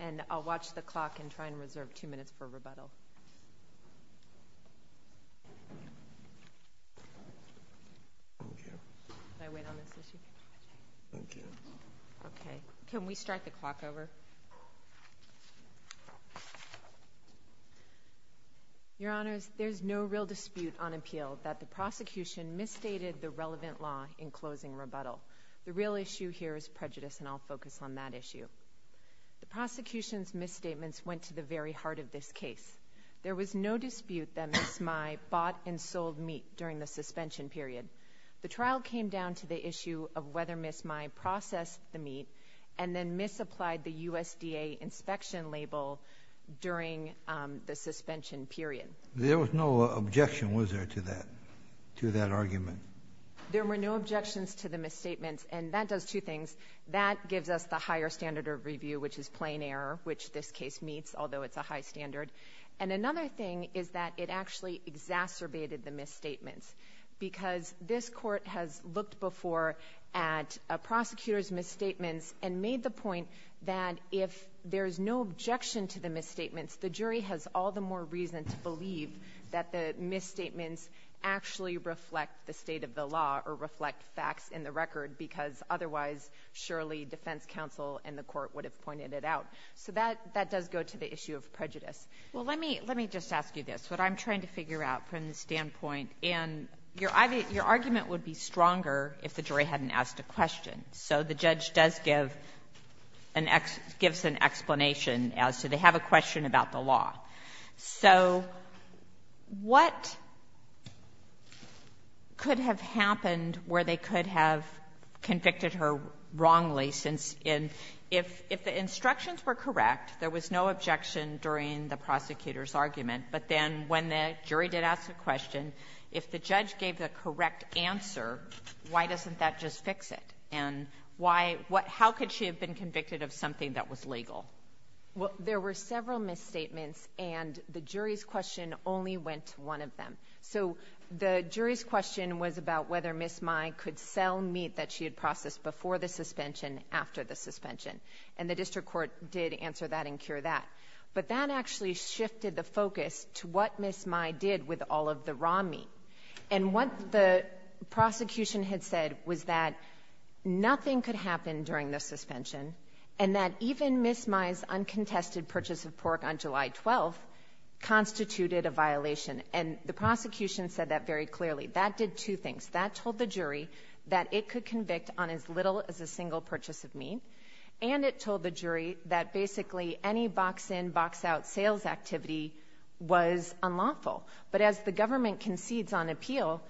and I'll watch the clock and try and reserve two minutes for rebuttal. Can I wait on this issue? Thank you. Okay. Can we start the clock over? Your Honors, there's no real dispute on impeachment. The prosecution misstated the relevant law in closing rebuttal. The real issue here is prejudice and I'll focus on that issue. The prosecution's misstatements went to the very heart of this case. There was no dispute that Ms. Mai bought and sold meat during the suspension period. The trial came down to the issue of whether Ms. Mai processed the meat and then misapplied the USDA inspection label during the suspension period. There was no objection, was there, to that argument? There were no objections to the misstatements and that does two things. That gives us the higher standard of review, which is plain error, which this case meets, although it's a high standard. And another thing is that it actually exacerbated the misstatements because this court has looked before at a prosecutor's misstatements and made the point that if there's no objection to the misstatements, the jury has all the more reason to believe that the misstatements actually reflect the state of the law or reflect facts in the record because otherwise surely defense counsel and the court would have pointed it out. So that does go to the issue of prejudice. Well, let me just ask you this, what I'm trying to figure out from the standpoint and your argument would be stronger if the jury hadn't asked a question. So the judge does give an explanation as to they have a question about the law. So what could have happened where they could have convicted her wrongly since there was no objection during the prosecutor's argument? But then when the jury did ask a question, if the judge gave the correct answer, why doesn't that just fix it? And how could she have been convicted of something that was legal? Well, there were several misstatements and the jury's question only went to one of them. So the jury's question was about whether Ms. Mai could sell meat that she had processed before the suspension after the suspension. And the district court did answer that and cure that. But that actually shifted the focus to what Ms. Mai did with all of the raw meat. And what the prosecution had said was that nothing could happen during the suspension and that even Ms. Mai's uncontested purchase of pork on July 12th told the jury that it could convict on as little as a single purchase of meat. And it told the jury that basically any box-in, box-out sales activity was unlawful. But as the government concedes on appeal,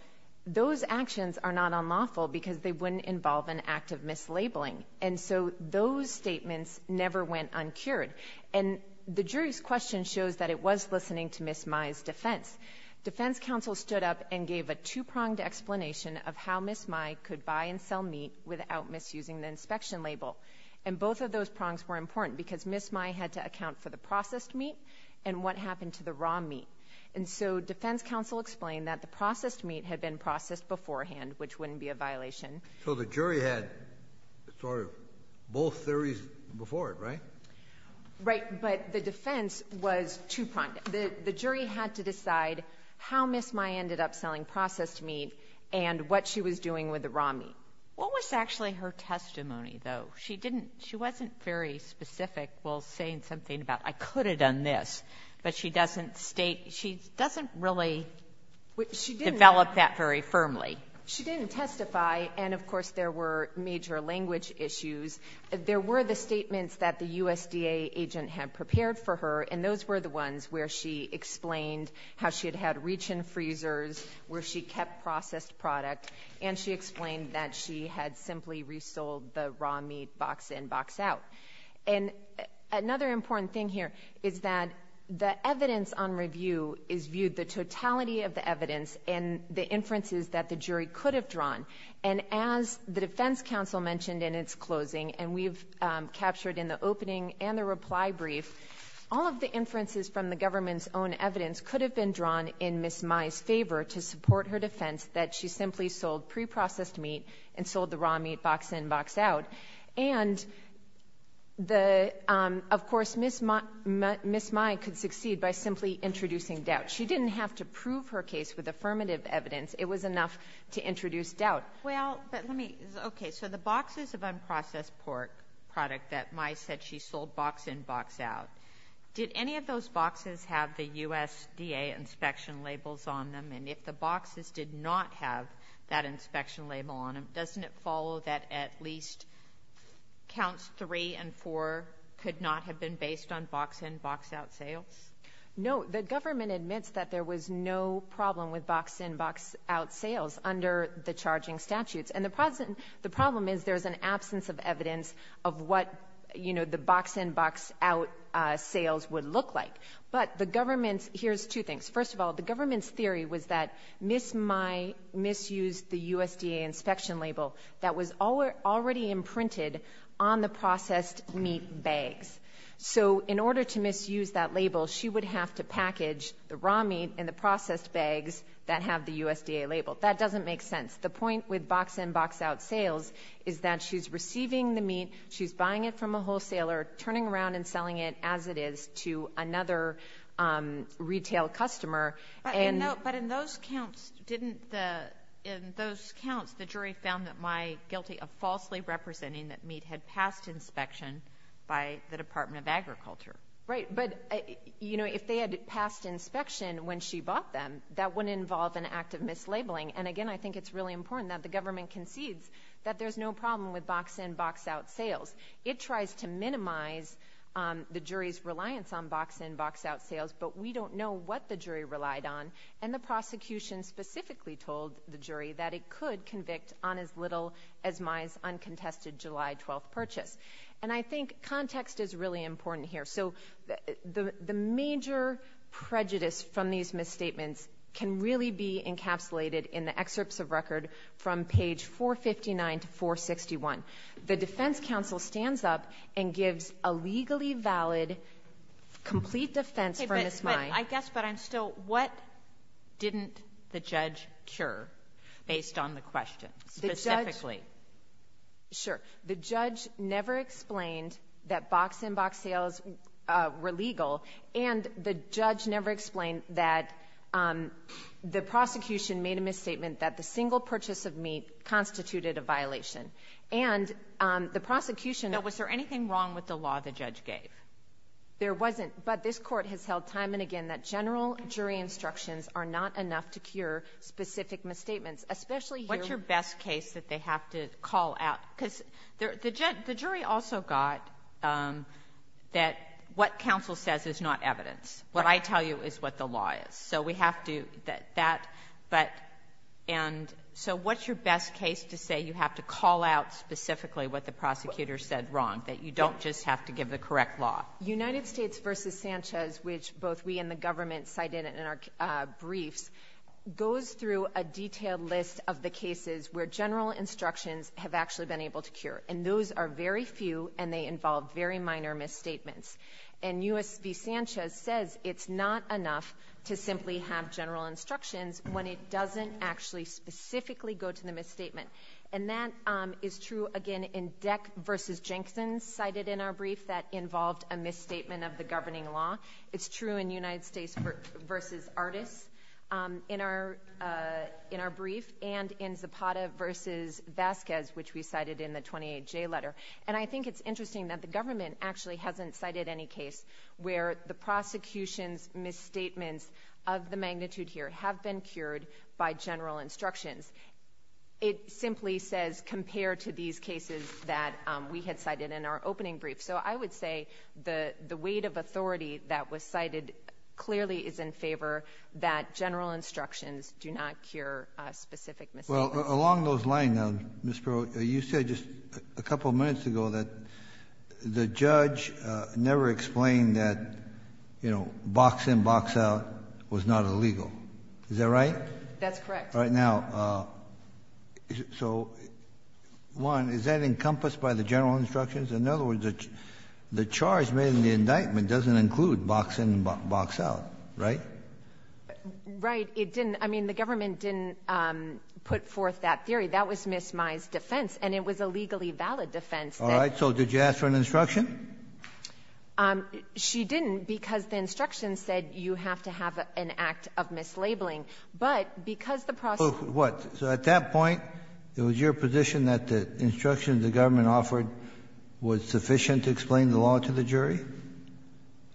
those actions are not unlawful because they wouldn't involve an act of mislabeling. And so those statements never went uncured. And the jury's question shows that it was listening to Ms. Mai's defense. Defense counsel stood up and gave a two-pronged explanation of how Ms. Mai could buy and sell meat without misusing the inspection label. And both of those prongs were important because Ms. Mai had to account for the processed meat and what happened to the raw meat. And so defense counsel explained that the processed meat had been processed beforehand which wouldn't be a violation. So the jury had both theories before it, right? Right. But the defense was two-pronged. The jury had to decide how Ms. Mai ended up selling processed meat and what she was doing with the raw meat. What was actually her testimony, though? She didn't... she wasn't very specific while saying something about, I could have done this. But she doesn't state... she doesn't really develop that very firmly. She didn't testify, and of course there were major language issues. There were the statements that the USDA agent had prepared for her, and those were the ones where she explained how she had had reach-in freezers, where she kept processed product, and she explained that she had simply resold the raw meat box-in, box-out. And another important thing here is that the evidence on review is viewed, the totality of the evidence, and the inferences that the jury could have drawn. And as the defense counsel mentioned in its closing, and we've captured in the opening and the reply brief, all of the inferences from the government's own evidence could have been drawn in Ms. Mai's favor to support her defense that she simply sold preprocessed meat and sold the raw meat box-in, box-out. And of course, Ms. Mai could succeed by simply introducing doubt. She didn't have to prove her case with affirmative evidence. It was enough to introduce doubt. Well, but let me... okay, so the boxes of unprocessed pork product that Mai said she sold box-in, box-out, did any of those boxes have the USDA inspection labels on them? And if the boxes did not have that inspection label on them, doesn't it follow that at least counts three and four could not have been based on box-in, box-out sales? No. The government admits that there was no problem with box-in, box-out sales under the charging statutes. And the problem is there's an absence of evidence of what the box-in, box-out sales would look like. But the government's... here's two things. First of all, the government's theory was that Ms. Mai misused the USDA inspection label that was already imprinted on the processed meat bags. So in order to misuse that label, she would have to package the raw meat and the processed bags that have the USDA label. That doesn't make sense. The point with box-in, box-out sales is that she's receiving the meat, she's buying it from a wholesaler, turning around and selling it as it is to another retail customer. But in those counts, the jury found that Mai guilty of falsely representing that meat had passed inspection by the Department of Agriculture. If they had passed inspection when she bought them, that wouldn't involve an act of mislabeling. And again, I think it's really important that the government concedes that there's no problem with box-in, box-out sales, but we don't know what the jury relied on. And the prosecution specifically told the jury that it could convict on as little as Mai's uncontested July 12th purchase. And I think context is really important here. The major prejudice from these misstatements can really be encapsulated in the excerpts of record from page 459 to 461. The defense counsel stands up and gives a legally valid complete defense for Ms. Mai. I guess, but I'm still, what didn't the judge cure based on the question specifically? Sure. The judge never explained that box-in, box-out sales were legal and the judge never explained that the prosecution made a misstatement that the single purchase of meat constituted a violation. Was there anything wrong with the law the judge gave? There wasn't, but this court has held time and again that general jury instructions are not enough to cure specific misstatements. What's your best case that they have to call out? The jury also got that what counsel says is not correct. So what's your best case to say you have to call out specifically what the prosecutor said wrong, that you don't just have to give the correct law? United States v. Sanchez, which both we and the government cited in our briefs, goes through a detailed list of the cases where general instructions have actually been able to cure. And those are very few and they involve very minor misstatements. And U.S. v. Sanchez says it's not enough to simply have general instructions when it doesn't actually specifically go to the misstatement. And that is true again in Deck v. Jenkins cited in our brief that involved a misstatement of the governing law. It's true in United States v. Artis in our brief and in Zapata v. Vasquez, which we cited in the 28J letter. And I think it's interesting that the government actually hasn't cited any case where the prosecution's misstatements of the magnitude here have been cured by general instructions. It simply says compared to these cases that we had cited in our opening brief. So I would say the weight of authority that was cited clearly is in favor that general instructions do not cure specific misstatements. You said just a couple of minutes ago that the judge never explained that box in, box out was not illegal. Is that right? That's correct. One, is that encompassed by the general instructions? In other words, the charge made in the case, it didn't, I mean, the government didn't put forth that theory. That was Ms. Mai's defense and it was a legally valid defense. Alright, so did you ask for an instruction? She didn't because the instruction said you have to have an act of mislabeling. But because the prosecution. So at that point, it was your position that the instructions the government offered was sufficient to explain the law to the jury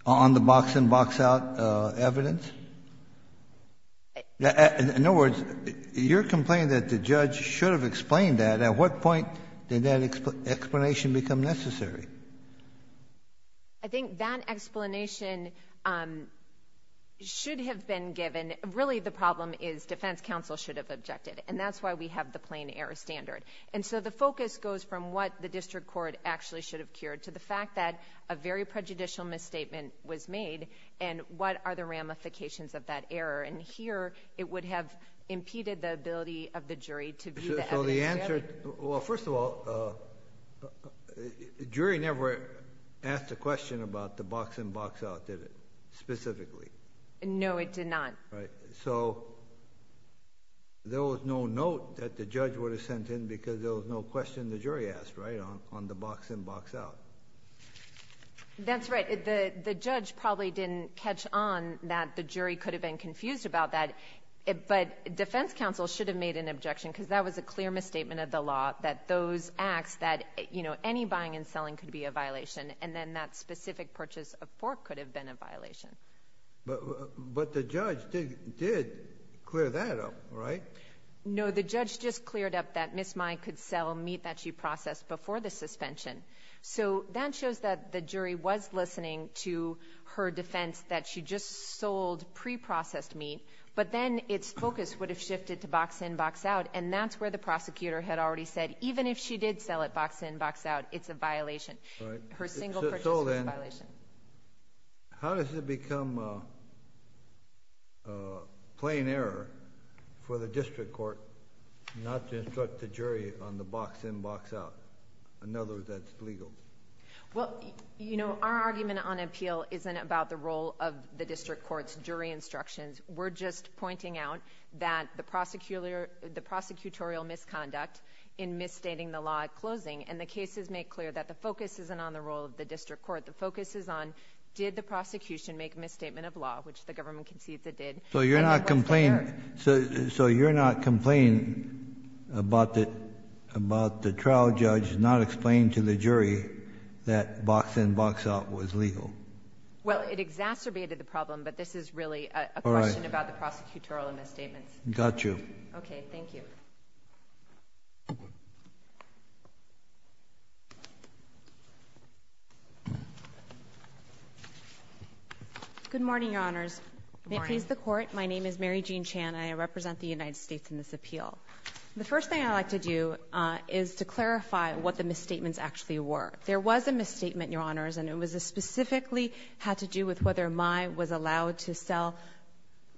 on the box in, box out evidence? In other words, you're complaining that the judge should have explained that. At what point did that explanation become necessary? I think that explanation should have been given. Really the problem is defense counsel should have objected. And that's why we have the plain error standard. And so the focus goes from what the district court actually should have cured to the fact that a very prejudicial misstatement was made and what are the ramifications of that error. And here, it would have impeded the ability of the jury to view the evidence fairly. Well, first of all, the jury never asked a question about the box in, box out, did it? Specifically? No, it did not. Right. So there was no note that the judge would have sent in because there was no question the jury asked, right? On the box in, box out. That's right. The judge probably didn't catch on that the jury could have been confused about that. But defense counsel should have made an objection because that was a clear misstatement of the law that those acts that, you know, any buying and selling could be a violation. And then that did clear that up, right? No, the judge just cleared up that Ms. Mai could sell meat that she processed before the suspension. So that shows that the jury was listening to her defense that she just sold pre-processed meat, but then its focus would have shifted to box in, box out. And that's where the prosecutor had already said, even if she did sell it box in, box out, it's a violation. Her single purchase was a violation. How does it become a plain error for the district court not to instruct the jury on the box in, box out? In other words, that's illegal. Well, you know, our argument on appeal isn't about the role of the district court's jury instructions. We're just pointing out that the prosecutorial misconduct in misstating the law at closing and the cases make clear that the focus isn't on the role of the district court. The focus is on did the prosecution make a misstatement of law, which the government concedes it did. So you're not complaining about the trial judge not explaining to the jury that box in, box out was legal? Well, it exacerbated the problem, but this is really a question about the prosecutorial misstatements. Got you. Okay, thank you. Good morning, Your Honors. May it please the Court? My name is Mary Jean Chan and I represent the United States in this appeal. The first thing I'd like to do is to clarify what the misstatements actually were. There was a misstatement, Your Honors, and it specifically had to do with whether Mai was allowed to sell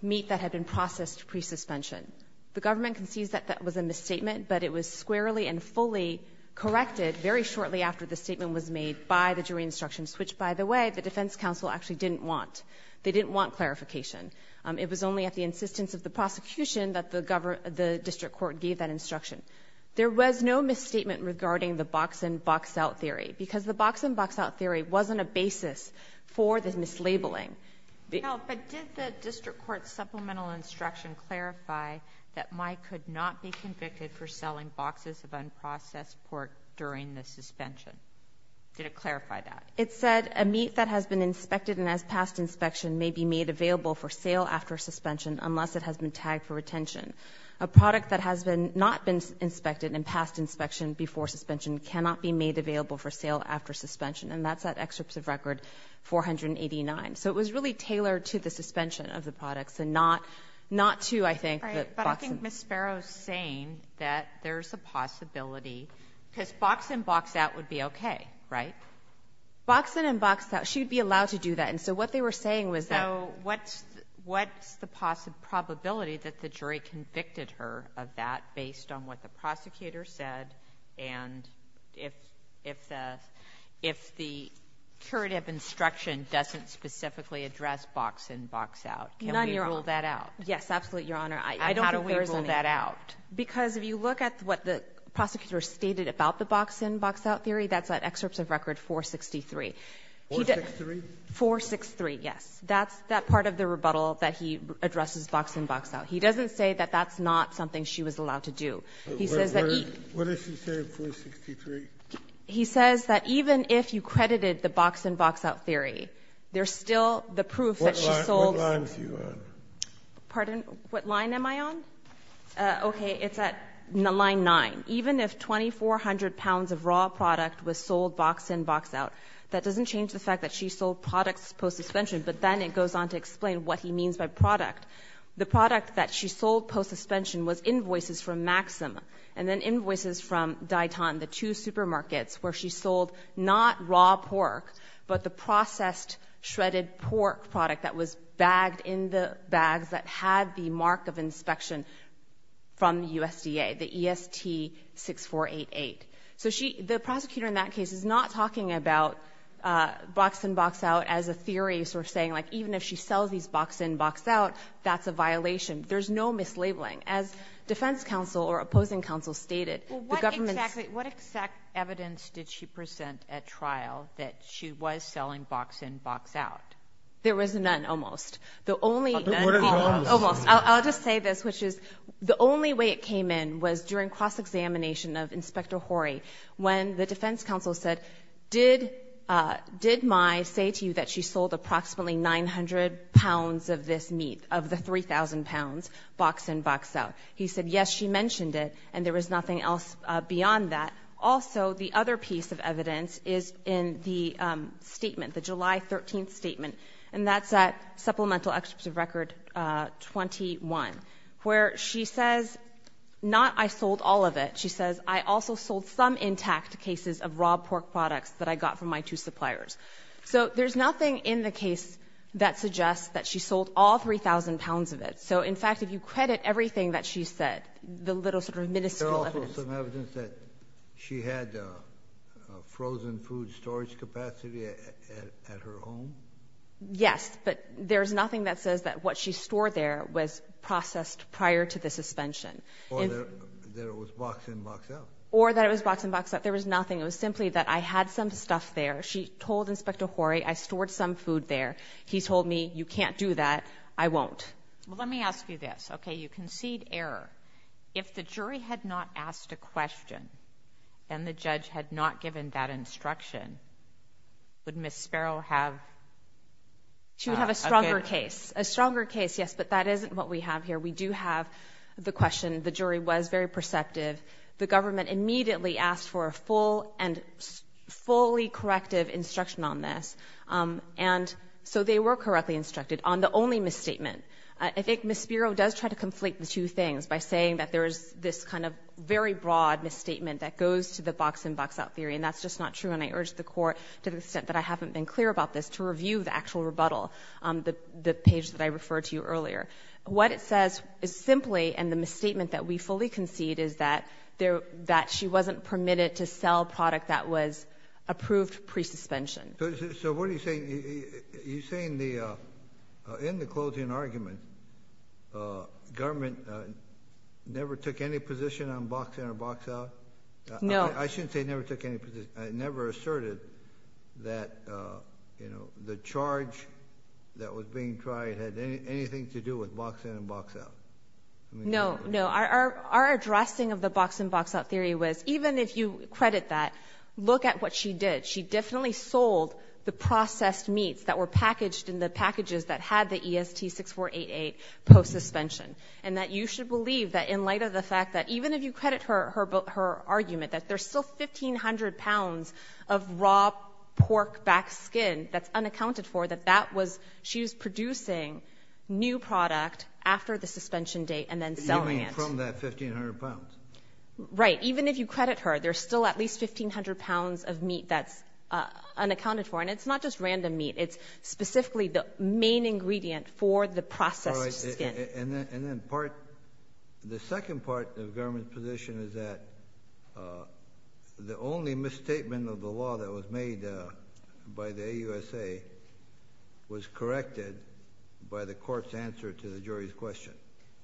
meat that had been processed pre-suspension. The government concedes that that was a misstatement, but it was squarely and fully corrected very shortly after the statement was made by the jury instructions, which, by the way, the defense counsel actually didn't want. They didn't want clarification. It was only at the insistence of the prosecution that the district court gave that instruction. There was no misstatement regarding the box out theory. It wasn't a basis for the mislabeling. But did the district court's supplemental instruction clarify that Mai could not be convicted for selling boxes of unprocessed pork during the suspension? Did it clarify that? It said, a meat that has been inspected and has passed inspection may be made available for sale after suspension unless it has been tagged for retention. A product that has not been tagged for retention is a product that has not been tagged for retention, and that's that excerpt of record 489. So it was really tailored to the suspension of the products and not to, I think, the box in. But I think Ms. Sparrow's saying that there's a possibility, because box in, box out would be okay, right? Box in and box out. She would be allowed to do that. And so what they were saying was that So what's the probability that the jury convicted her of that based on what the curative instruction doesn't specifically address box in, box out? Can we rule that out? None, Your Honor. Yes, absolutely, Your Honor. And how do we rule that out? Because if you look at what the prosecutor stated about the box in, box out theory, that's that excerpt of record 463. 463? 463, yes. That's that part of the rebuttal that he addresses box in, box out. He doesn't say that that's not something she was allowed to do. What does he say in 463? He says that even if you credited the box in, box out theory, there's still the proof that she sold What line are you on? Pardon? What line am I on? Okay, it's at line 9. Even if 2,400 pounds of raw product was sold box in, box out, that doesn't change the fact that she sold products post suspension. But then it goes on to explain what he means by product. The product that she sold post suspension was invoices from Maxim and then invoices from Dayton, the two supermarkets where she sold not raw pork, but the processed shredded pork product that was bagged in the bags that had the mark of inspection from the USDA, the EST 6488. So the prosecutor in that case is not talking about box in, box out as a theory, sort of saying even if she sells these box in, box out, that's a violation. There's no mislabeling. As defense counsel or opposing counsel stated, the government What exact evidence did she present at trial that she was selling box in, box out? There was none, almost. I'll just say this, which is the only way it came in was during cross-examination of Inspector Horry when the defense counsel said, did Mai say to you that she sold approximately 900 pounds of this meat, of the 3,000 pounds box in, box out? He said, yes, she mentioned it and there was nothing else beyond that. Also, the other piece of evidence is in the statement, the July 13th statement, and that's at Supplemental Chips of Record 21, where she says not I sold all of it. She says, I also sold some intact cases of raw pork products that I got from my two suppliers. So there's nothing in the case that suggests that she sold all 3,000 pounds of it. So in fact, if you credit everything that she said, the little sort of miniscule evidence. Is there also some evidence that she had frozen food storage capacity at her home? Yes, but there's nothing that says that what she stored there was processed prior to the suspension. Or that it was box in, box out? Or that it was box in, box out. There was nothing. It was simply that I had some stuff there. She told Inspector Horry, I stored some food there. He told me, you can't do that. I won't. Let me ask you this. Okay, you concede error. If the jury had not asked a question, and the judge had not given that instruction, would Ms. Sparrow have... She would have a stronger case. A stronger case, yes, but that isn't what we have here. We do have the question. The jury was very perceptive. The government immediately asked for a full and fully corrective instruction on this. And so they were correctly instructed on the only misstatement. I think Ms. Sparrow does try to conflate the two things by saying that there is this kind of very broad misstatement that goes to the box in, box out theory, and that's just not true. And I urge the Court, to the extent that I haven't been clear about this, to review the actual rebuttal, the page that I referred to earlier. What it says is simply, and the misstatement that we fully concede is that she wasn't permitted to sell product that was approved pre-suspension. So what are you saying? You're saying in the closing argument, government never took any position on box in or box out? No. I shouldn't say never took any position. I never asserted that the charge that was being tried had anything to do with box in and box out. No, no. Our addressing of the box in, box out theory was, even if you credit that, look at what she did. She definitely sold the processed meats that were packaged in the packages that had the EST 6488 post-suspension. And that you should believe that in light of the fact that, even if you credit her argument, that there's still 1,500 pounds of raw pork back skin that's unaccounted for, that she was producing new product after the suspension date and then selling it. You mean from that 1,500 pounds? Right. Even if you credit her, there's still at least 1,500 pounds of meat that's unaccounted for. And it's not just random meat. It's specifically the main ingredient for the processed skin. The second part of the government's position is that the only misstatement of the law that was made by the AUSA was corrected by the court's answer to the jury's question.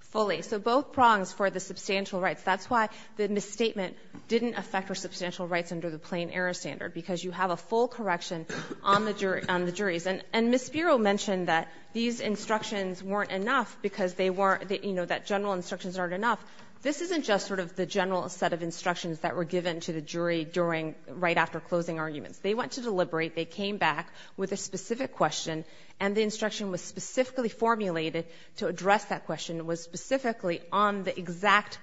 Fully. So both prongs for the substantial rights. That's why the misstatement didn't affect her substantial rights under the plain error standard, because you have a full correction on the jury's. And Ms. Spiro mentioned that these instructions weren't enough because they weren't just the general set of instructions that were given to the jury right after closing arguments. They went to deliberate. They came back with a specific question, and the instruction was specifically formulated to address that question. It was specifically on the exact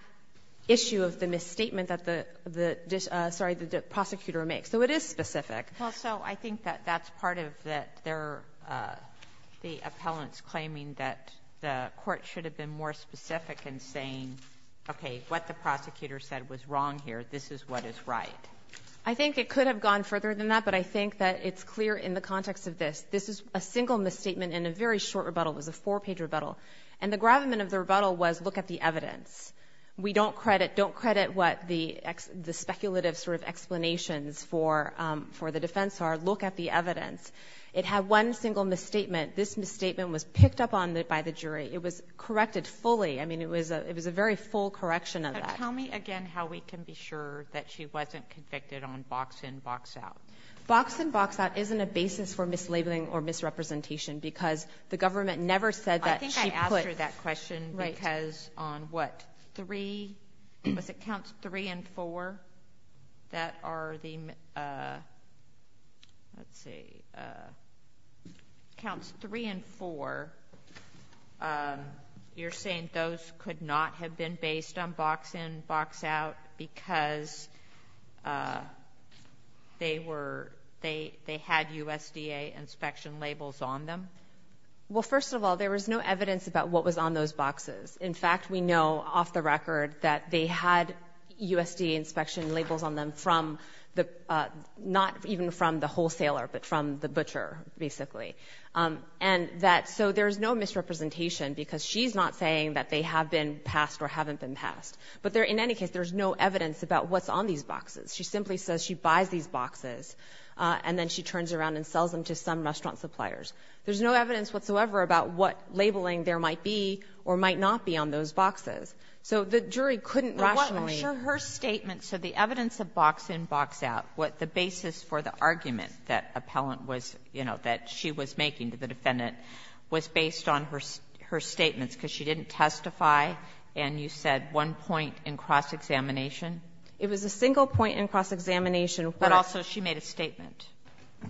issue of the misstatement that the prosecutor makes. So it is specific. Well, so I think that that's part of the appellant's I think it could have gone further than that, but I think that it's clear in the context of this. This is a single misstatement in a very short rebuttal. It was a four-page rebuttal. And the gravamen of the rebuttal was, look at the evidence. We don't credit what the speculative sort of explanations for the defense are. Look at the evidence. It had one single misstatement. This misstatement was picked up on by the jury. It was corrected fully. I mean, it was a very full correction of that. Tell me again how we can be sure that she wasn't convicted on box-in, box-out. Box-in, box-out isn't a basis for mislabeling or misrepresentation because the government never said that she put... I think I asked her that question because on, what, three was it counts three and four that are the same, let's see, counts three and four, you're saying those could not have been based on box-in, box-out because they had USDA inspection labels on them? Well, first of all, there was no evidence about what was on those boxes. In fact, we know off the record that they had USDA inspection labels on them not even from the wholesaler, but from the butcher, basically. So there's no misrepresentation because she's not saying that they have been passed or haven't been passed. But in any case, there's no evidence about what's on these boxes. She simply says she buys these boxes and then she turns around and sells them to some restaurant suppliers. There's no evidence whatsoever about what labeling there might be or might not be on those boxes. So the jury couldn't rationally... But what I'm sure her statement said, the evidence of box-in, box-out, what the basis for the argument that appellant was, you know, that she was making to the defendant was based on her statements because she didn't testify and you said one point in cross-examination? It was a single point in cross-examination where... But also she made a statement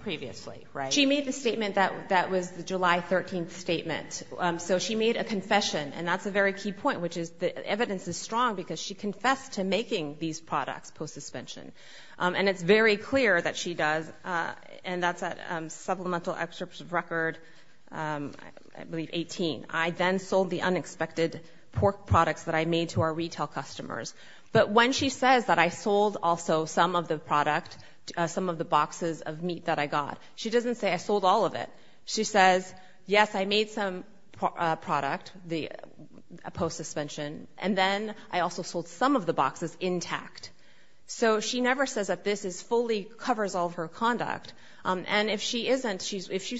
previously, right? She made the statement that was the July 13th statement. So she made a confession, and that's a very key point, which is the evidence is strong because she confessed to making these products post-suspension. And it's very clear that she does. And that's a supplemental excerpt of record, I believe, 18. I then sold the unexpected pork products that I made to our retail customers. But when she says that I sold also some of the product, some of the boxes of meat that I got, she doesn't say I sold all of it. She says, yes, I made some product post-suspension, and then I also sold some of the boxes intact. So she never says that this fully covers all of her conduct. And if she isn't,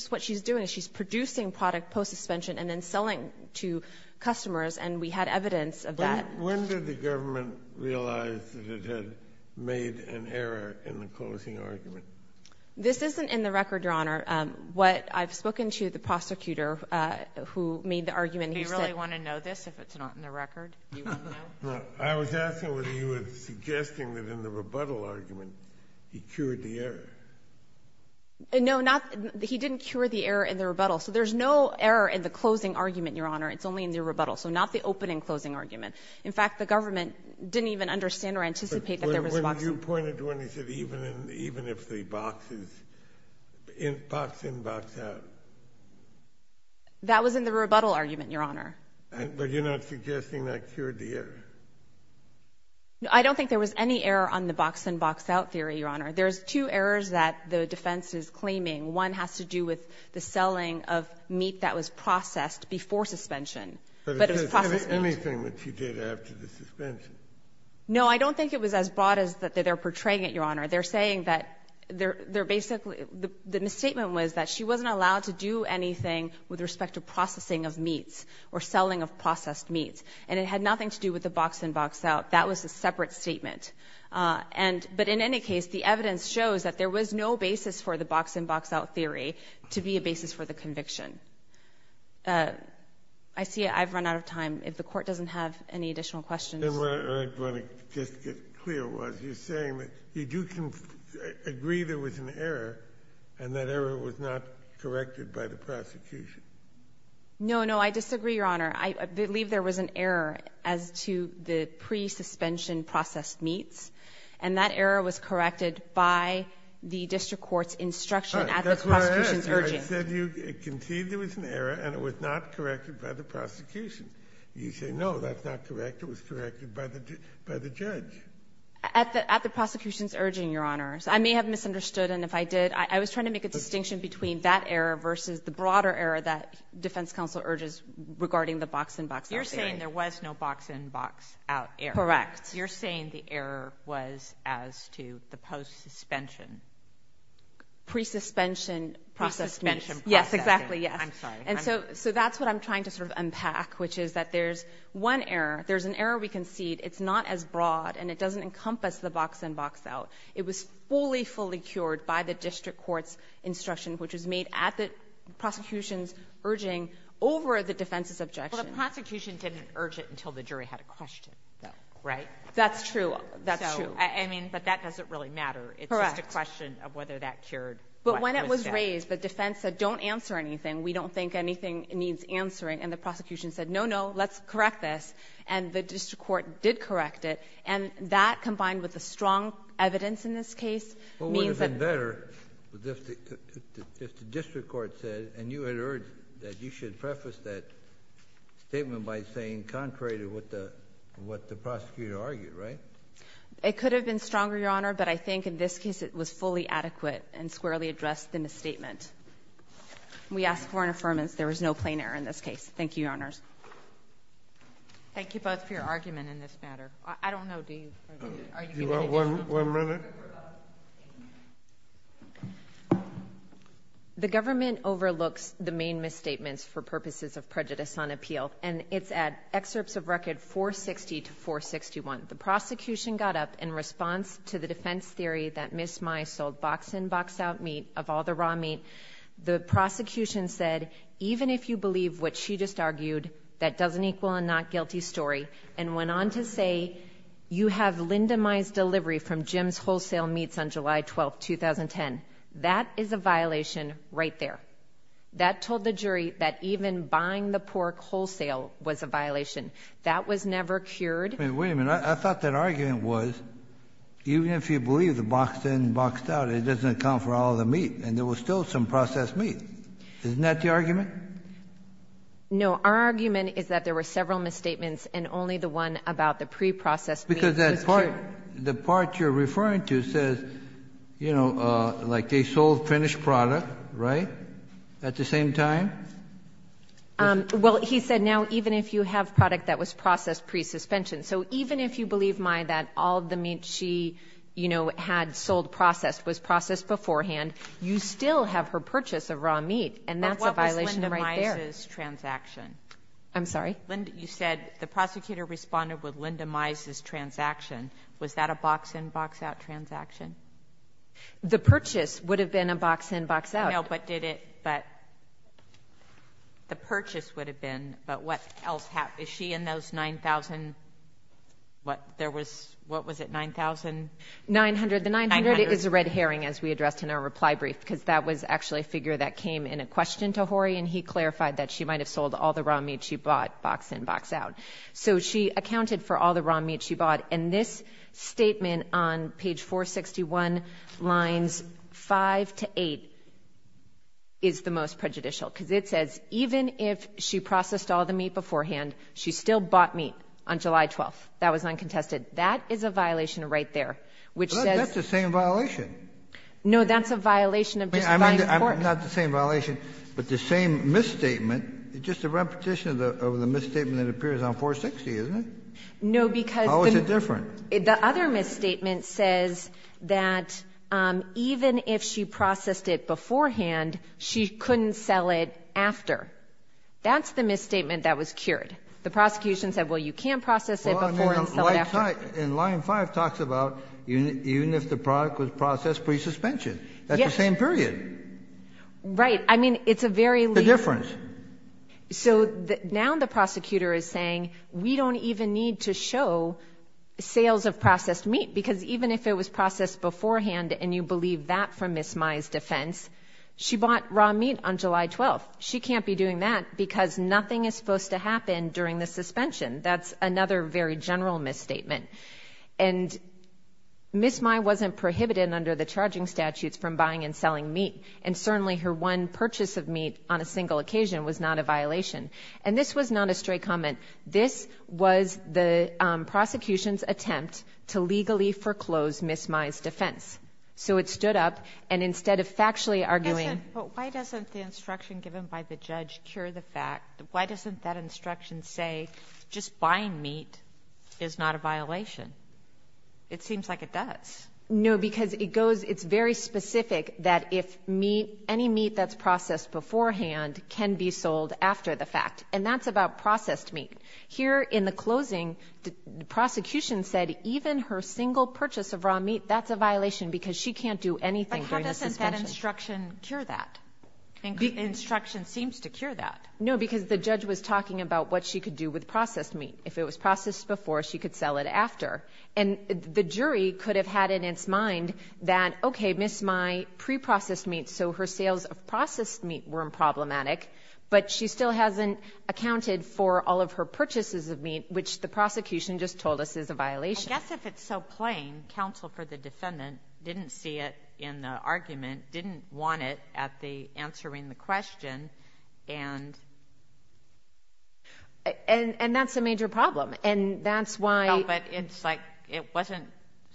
what she's doing is she's producing product post-suspension and then selling to customers, and we had evidence of that. When did the government realize that it had made an error in the closing argument? This isn't in the record, Your Honor. I've spoken to the prosecutor who made the argument. Do you really want to know this if it's not in the record? I was asking whether you were suggesting that in the rebuttal argument he cured the error. No, he didn't cure the error in the rebuttal. So there's no error in the closing argument, Your Honor. It's only in the rebuttal, so not the opening-closing argument. In fact, the government didn't even understand or anticipate that there was a box-in. But you pointed to when he said even if the boxes, box-in, box-out. That was in the rebuttal argument, Your Honor. But you're not suggesting that cured the error? I don't think there was any error on the box-in, box-out theory, Your Honor. There's two errors that the defense is claiming. One has to do with the selling of meat that was processed before suspension, but it was processed meat. But is this anything that she did after the suspension? No, I don't think it was as broad as that they're portraying it, Your Honor. The misstatement was that she wasn't allowed to do anything with respect to processing of meats or selling of processed meats. And it had nothing to do with the box-in, box-out. That was a separate statement. But in any case, the evidence shows that there was no basis for the box-in, box-out theory to be a basis for the conviction. I see I've run out of time. If the Court doesn't have any additional questions... And what I want to just get clear was, you're saying that you do agree there was an error, and that error was not corrected by the prosecution. No, no, I disagree, Your Honor. I believe there was an error as to the pre-suspension processed meats, and that error was corrected by the district court's instruction at the prosecution's urging. You said you conceded there was an error, and it was not corrected by the prosecution. You say, no, that's not correct. It was corrected by the judge. At the prosecution's urging, Your Honor. I may have misunderstood, and if I did, I was trying to make a distinction between that error versus the broader error that Defense Counsel urges regarding the box-in, box-out theory. You're saying there was no box-in, box-out error. Correct. You're saying the error was as to the post-suspension. Pre-suspension processed meats. Pre-suspension processed meats. Yes, exactly, yes. That's true, that's true. But that doesn't really matter. It's just a question of whether that cured what was said. But when it was raised, the defense said, don't answer anything. We don't think anything needs answering. And the prosecution said, no, no, let's correct this. And the district court did correct it. And that, combined with the strong evidence in this case, means that... It could have been stronger, Your Honor, but I think in this case it was fully adequate and squarely addressed the misstatement. We ask for an affirmance there was no plain error in this case. Thank you, Your Honors. Thank you both for your argument in this matter. I don't know, do you? Do you want one minute? The government overlooks the main misstatements for purposes of prejudice on appeal. And it's at excerpts of record 460 to 461. The prosecution got up in response to the defense theory that Ms. Mai sold box-in, box-out meat of all the raw meat. The prosecution said, even if you believe what she just argued, that doesn't equal a not-guilty story. And went on to say, you have Linda Mai's delivery from Jim's Wholesale Meats on July 12, 2010. That is a violation right there. That was never cured. Wait a minute, I thought that argument was, even if you believe the box-in, box-out, it doesn't account for all the meat. And there was still some processed meat. Isn't that the argument? No, our argument is that there were several misstatements and only the one about the preprocessed meat was cured. Because that part, the part you're referring to says, you know, like they sold finished product, right, at the same time? Well, he said now, even if you have product that was processed pre-suspension. So even if you believe, Mai, that all the meat she, you know, had sold processed was processed beforehand, you still have her purchase of raw meat. And that's a violation right there. But what was Linda Mai's transaction? I'm sorry? You said the prosecutor responded with Linda Mai's transaction. Was that a box-in, box-out transaction? The purchase would have been a box-in, box-out. No, but did it, but the purchase would have been, but what else happened? Is she in those 9,000, what, there was, what was it, 9,000? 900. The 900 is a red herring, as we addressed in our reply brief, because that was actually a figure that came in a question to Horry, and he clarified that she might have sold all the raw meat she bought, box-in, box-out. So she accounted for all the raw meat she bought, and this statement on page 461, lines 5 to 8, is the most prejudicial. Because it says, even if she processed all the meat beforehand, she still bought meat on July 12th. That was uncontested. That is a violation right there, which says. That's the same violation. No, that's a violation of justifying court. Not the same violation, but the same misstatement, just a repetition of the misstatement that appears on 460, isn't it? No, because the. How is it different? The other misstatement says that even if she processed it beforehand, she couldn't sell it after. That's the misstatement that was cured. The prosecution said, well, you can't process it before and then sell it after. Well, and line 5 talks about even if the product was processed pre-suspension. Yes. It's the same period. Right. I mean, it's a very. The difference. So, now the prosecutor is saying, we don't even need to show sales of processed meat. Because even if it was processed beforehand, and you believe that from Ms. Mai's defense, she bought raw meat on July 12th. She can't be doing that because nothing is supposed to happen during the suspension. That's another very general misstatement. And Ms. Mai wasn't prohibited under the charging statutes from buying and selling meat. And certainly her one purchase of meat on a single occasion was not a violation. And this was not a straight comment. This was the prosecution's attempt to legally foreclose Ms. Mai's defense. So, it stood up, and instead of factually arguing. But why doesn't the instruction given by the judge cure the fact? Why doesn't that instruction say just buying meat is not a violation? It seems like it does. No, because it goes. It's very specific that if meat, any meat that's processed beforehand can be sold after the fact. And that's about processed meat. Here in the closing, the prosecution said even her single purchase of raw meat, that's a violation. Because she can't do anything during the suspension. But how doesn't that instruction cure that? The instruction seems to cure that. No, because the judge was talking about what she could do with processed meat. If it was processed before, she could sell it after. And the jury could have had in its mind that, okay, Ms. Mai pre-processed meat, so her sales of processed meat weren't problematic. But she still hasn't accounted for all of her purchases of meat, which the prosecution just told us is a violation. I guess if it's so plain, counsel for the defendant didn't see it in the argument, didn't want it at the answering the question, and... And that's a major problem. And that's why... No, but it's like it wasn't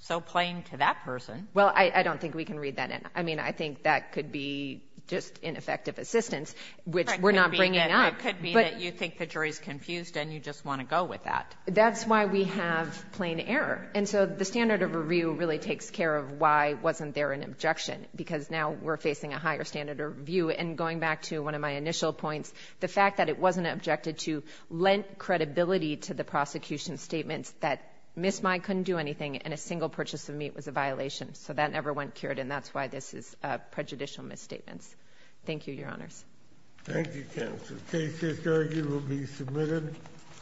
so plain to that person. Well, I don't think we can read that in. I mean, I think that could be just ineffective assistance, which we're not bringing up. It could be that you think the jury's confused and you just want to go with that. That's why we have plain error. And so the standard of review really takes care of why wasn't there an objection, because now we're facing a higher standard of review. And going back to one of my initial points, the fact that it wasn't objected to lent credibility to the prosecution's statements that Ms. Mai couldn't do anything and a single purchase of meat was a violation. So that never went cured, and that's why this is prejudicial misstatements. Thank you, Your Honors. Thank you, counsel. The case is arguably submitted.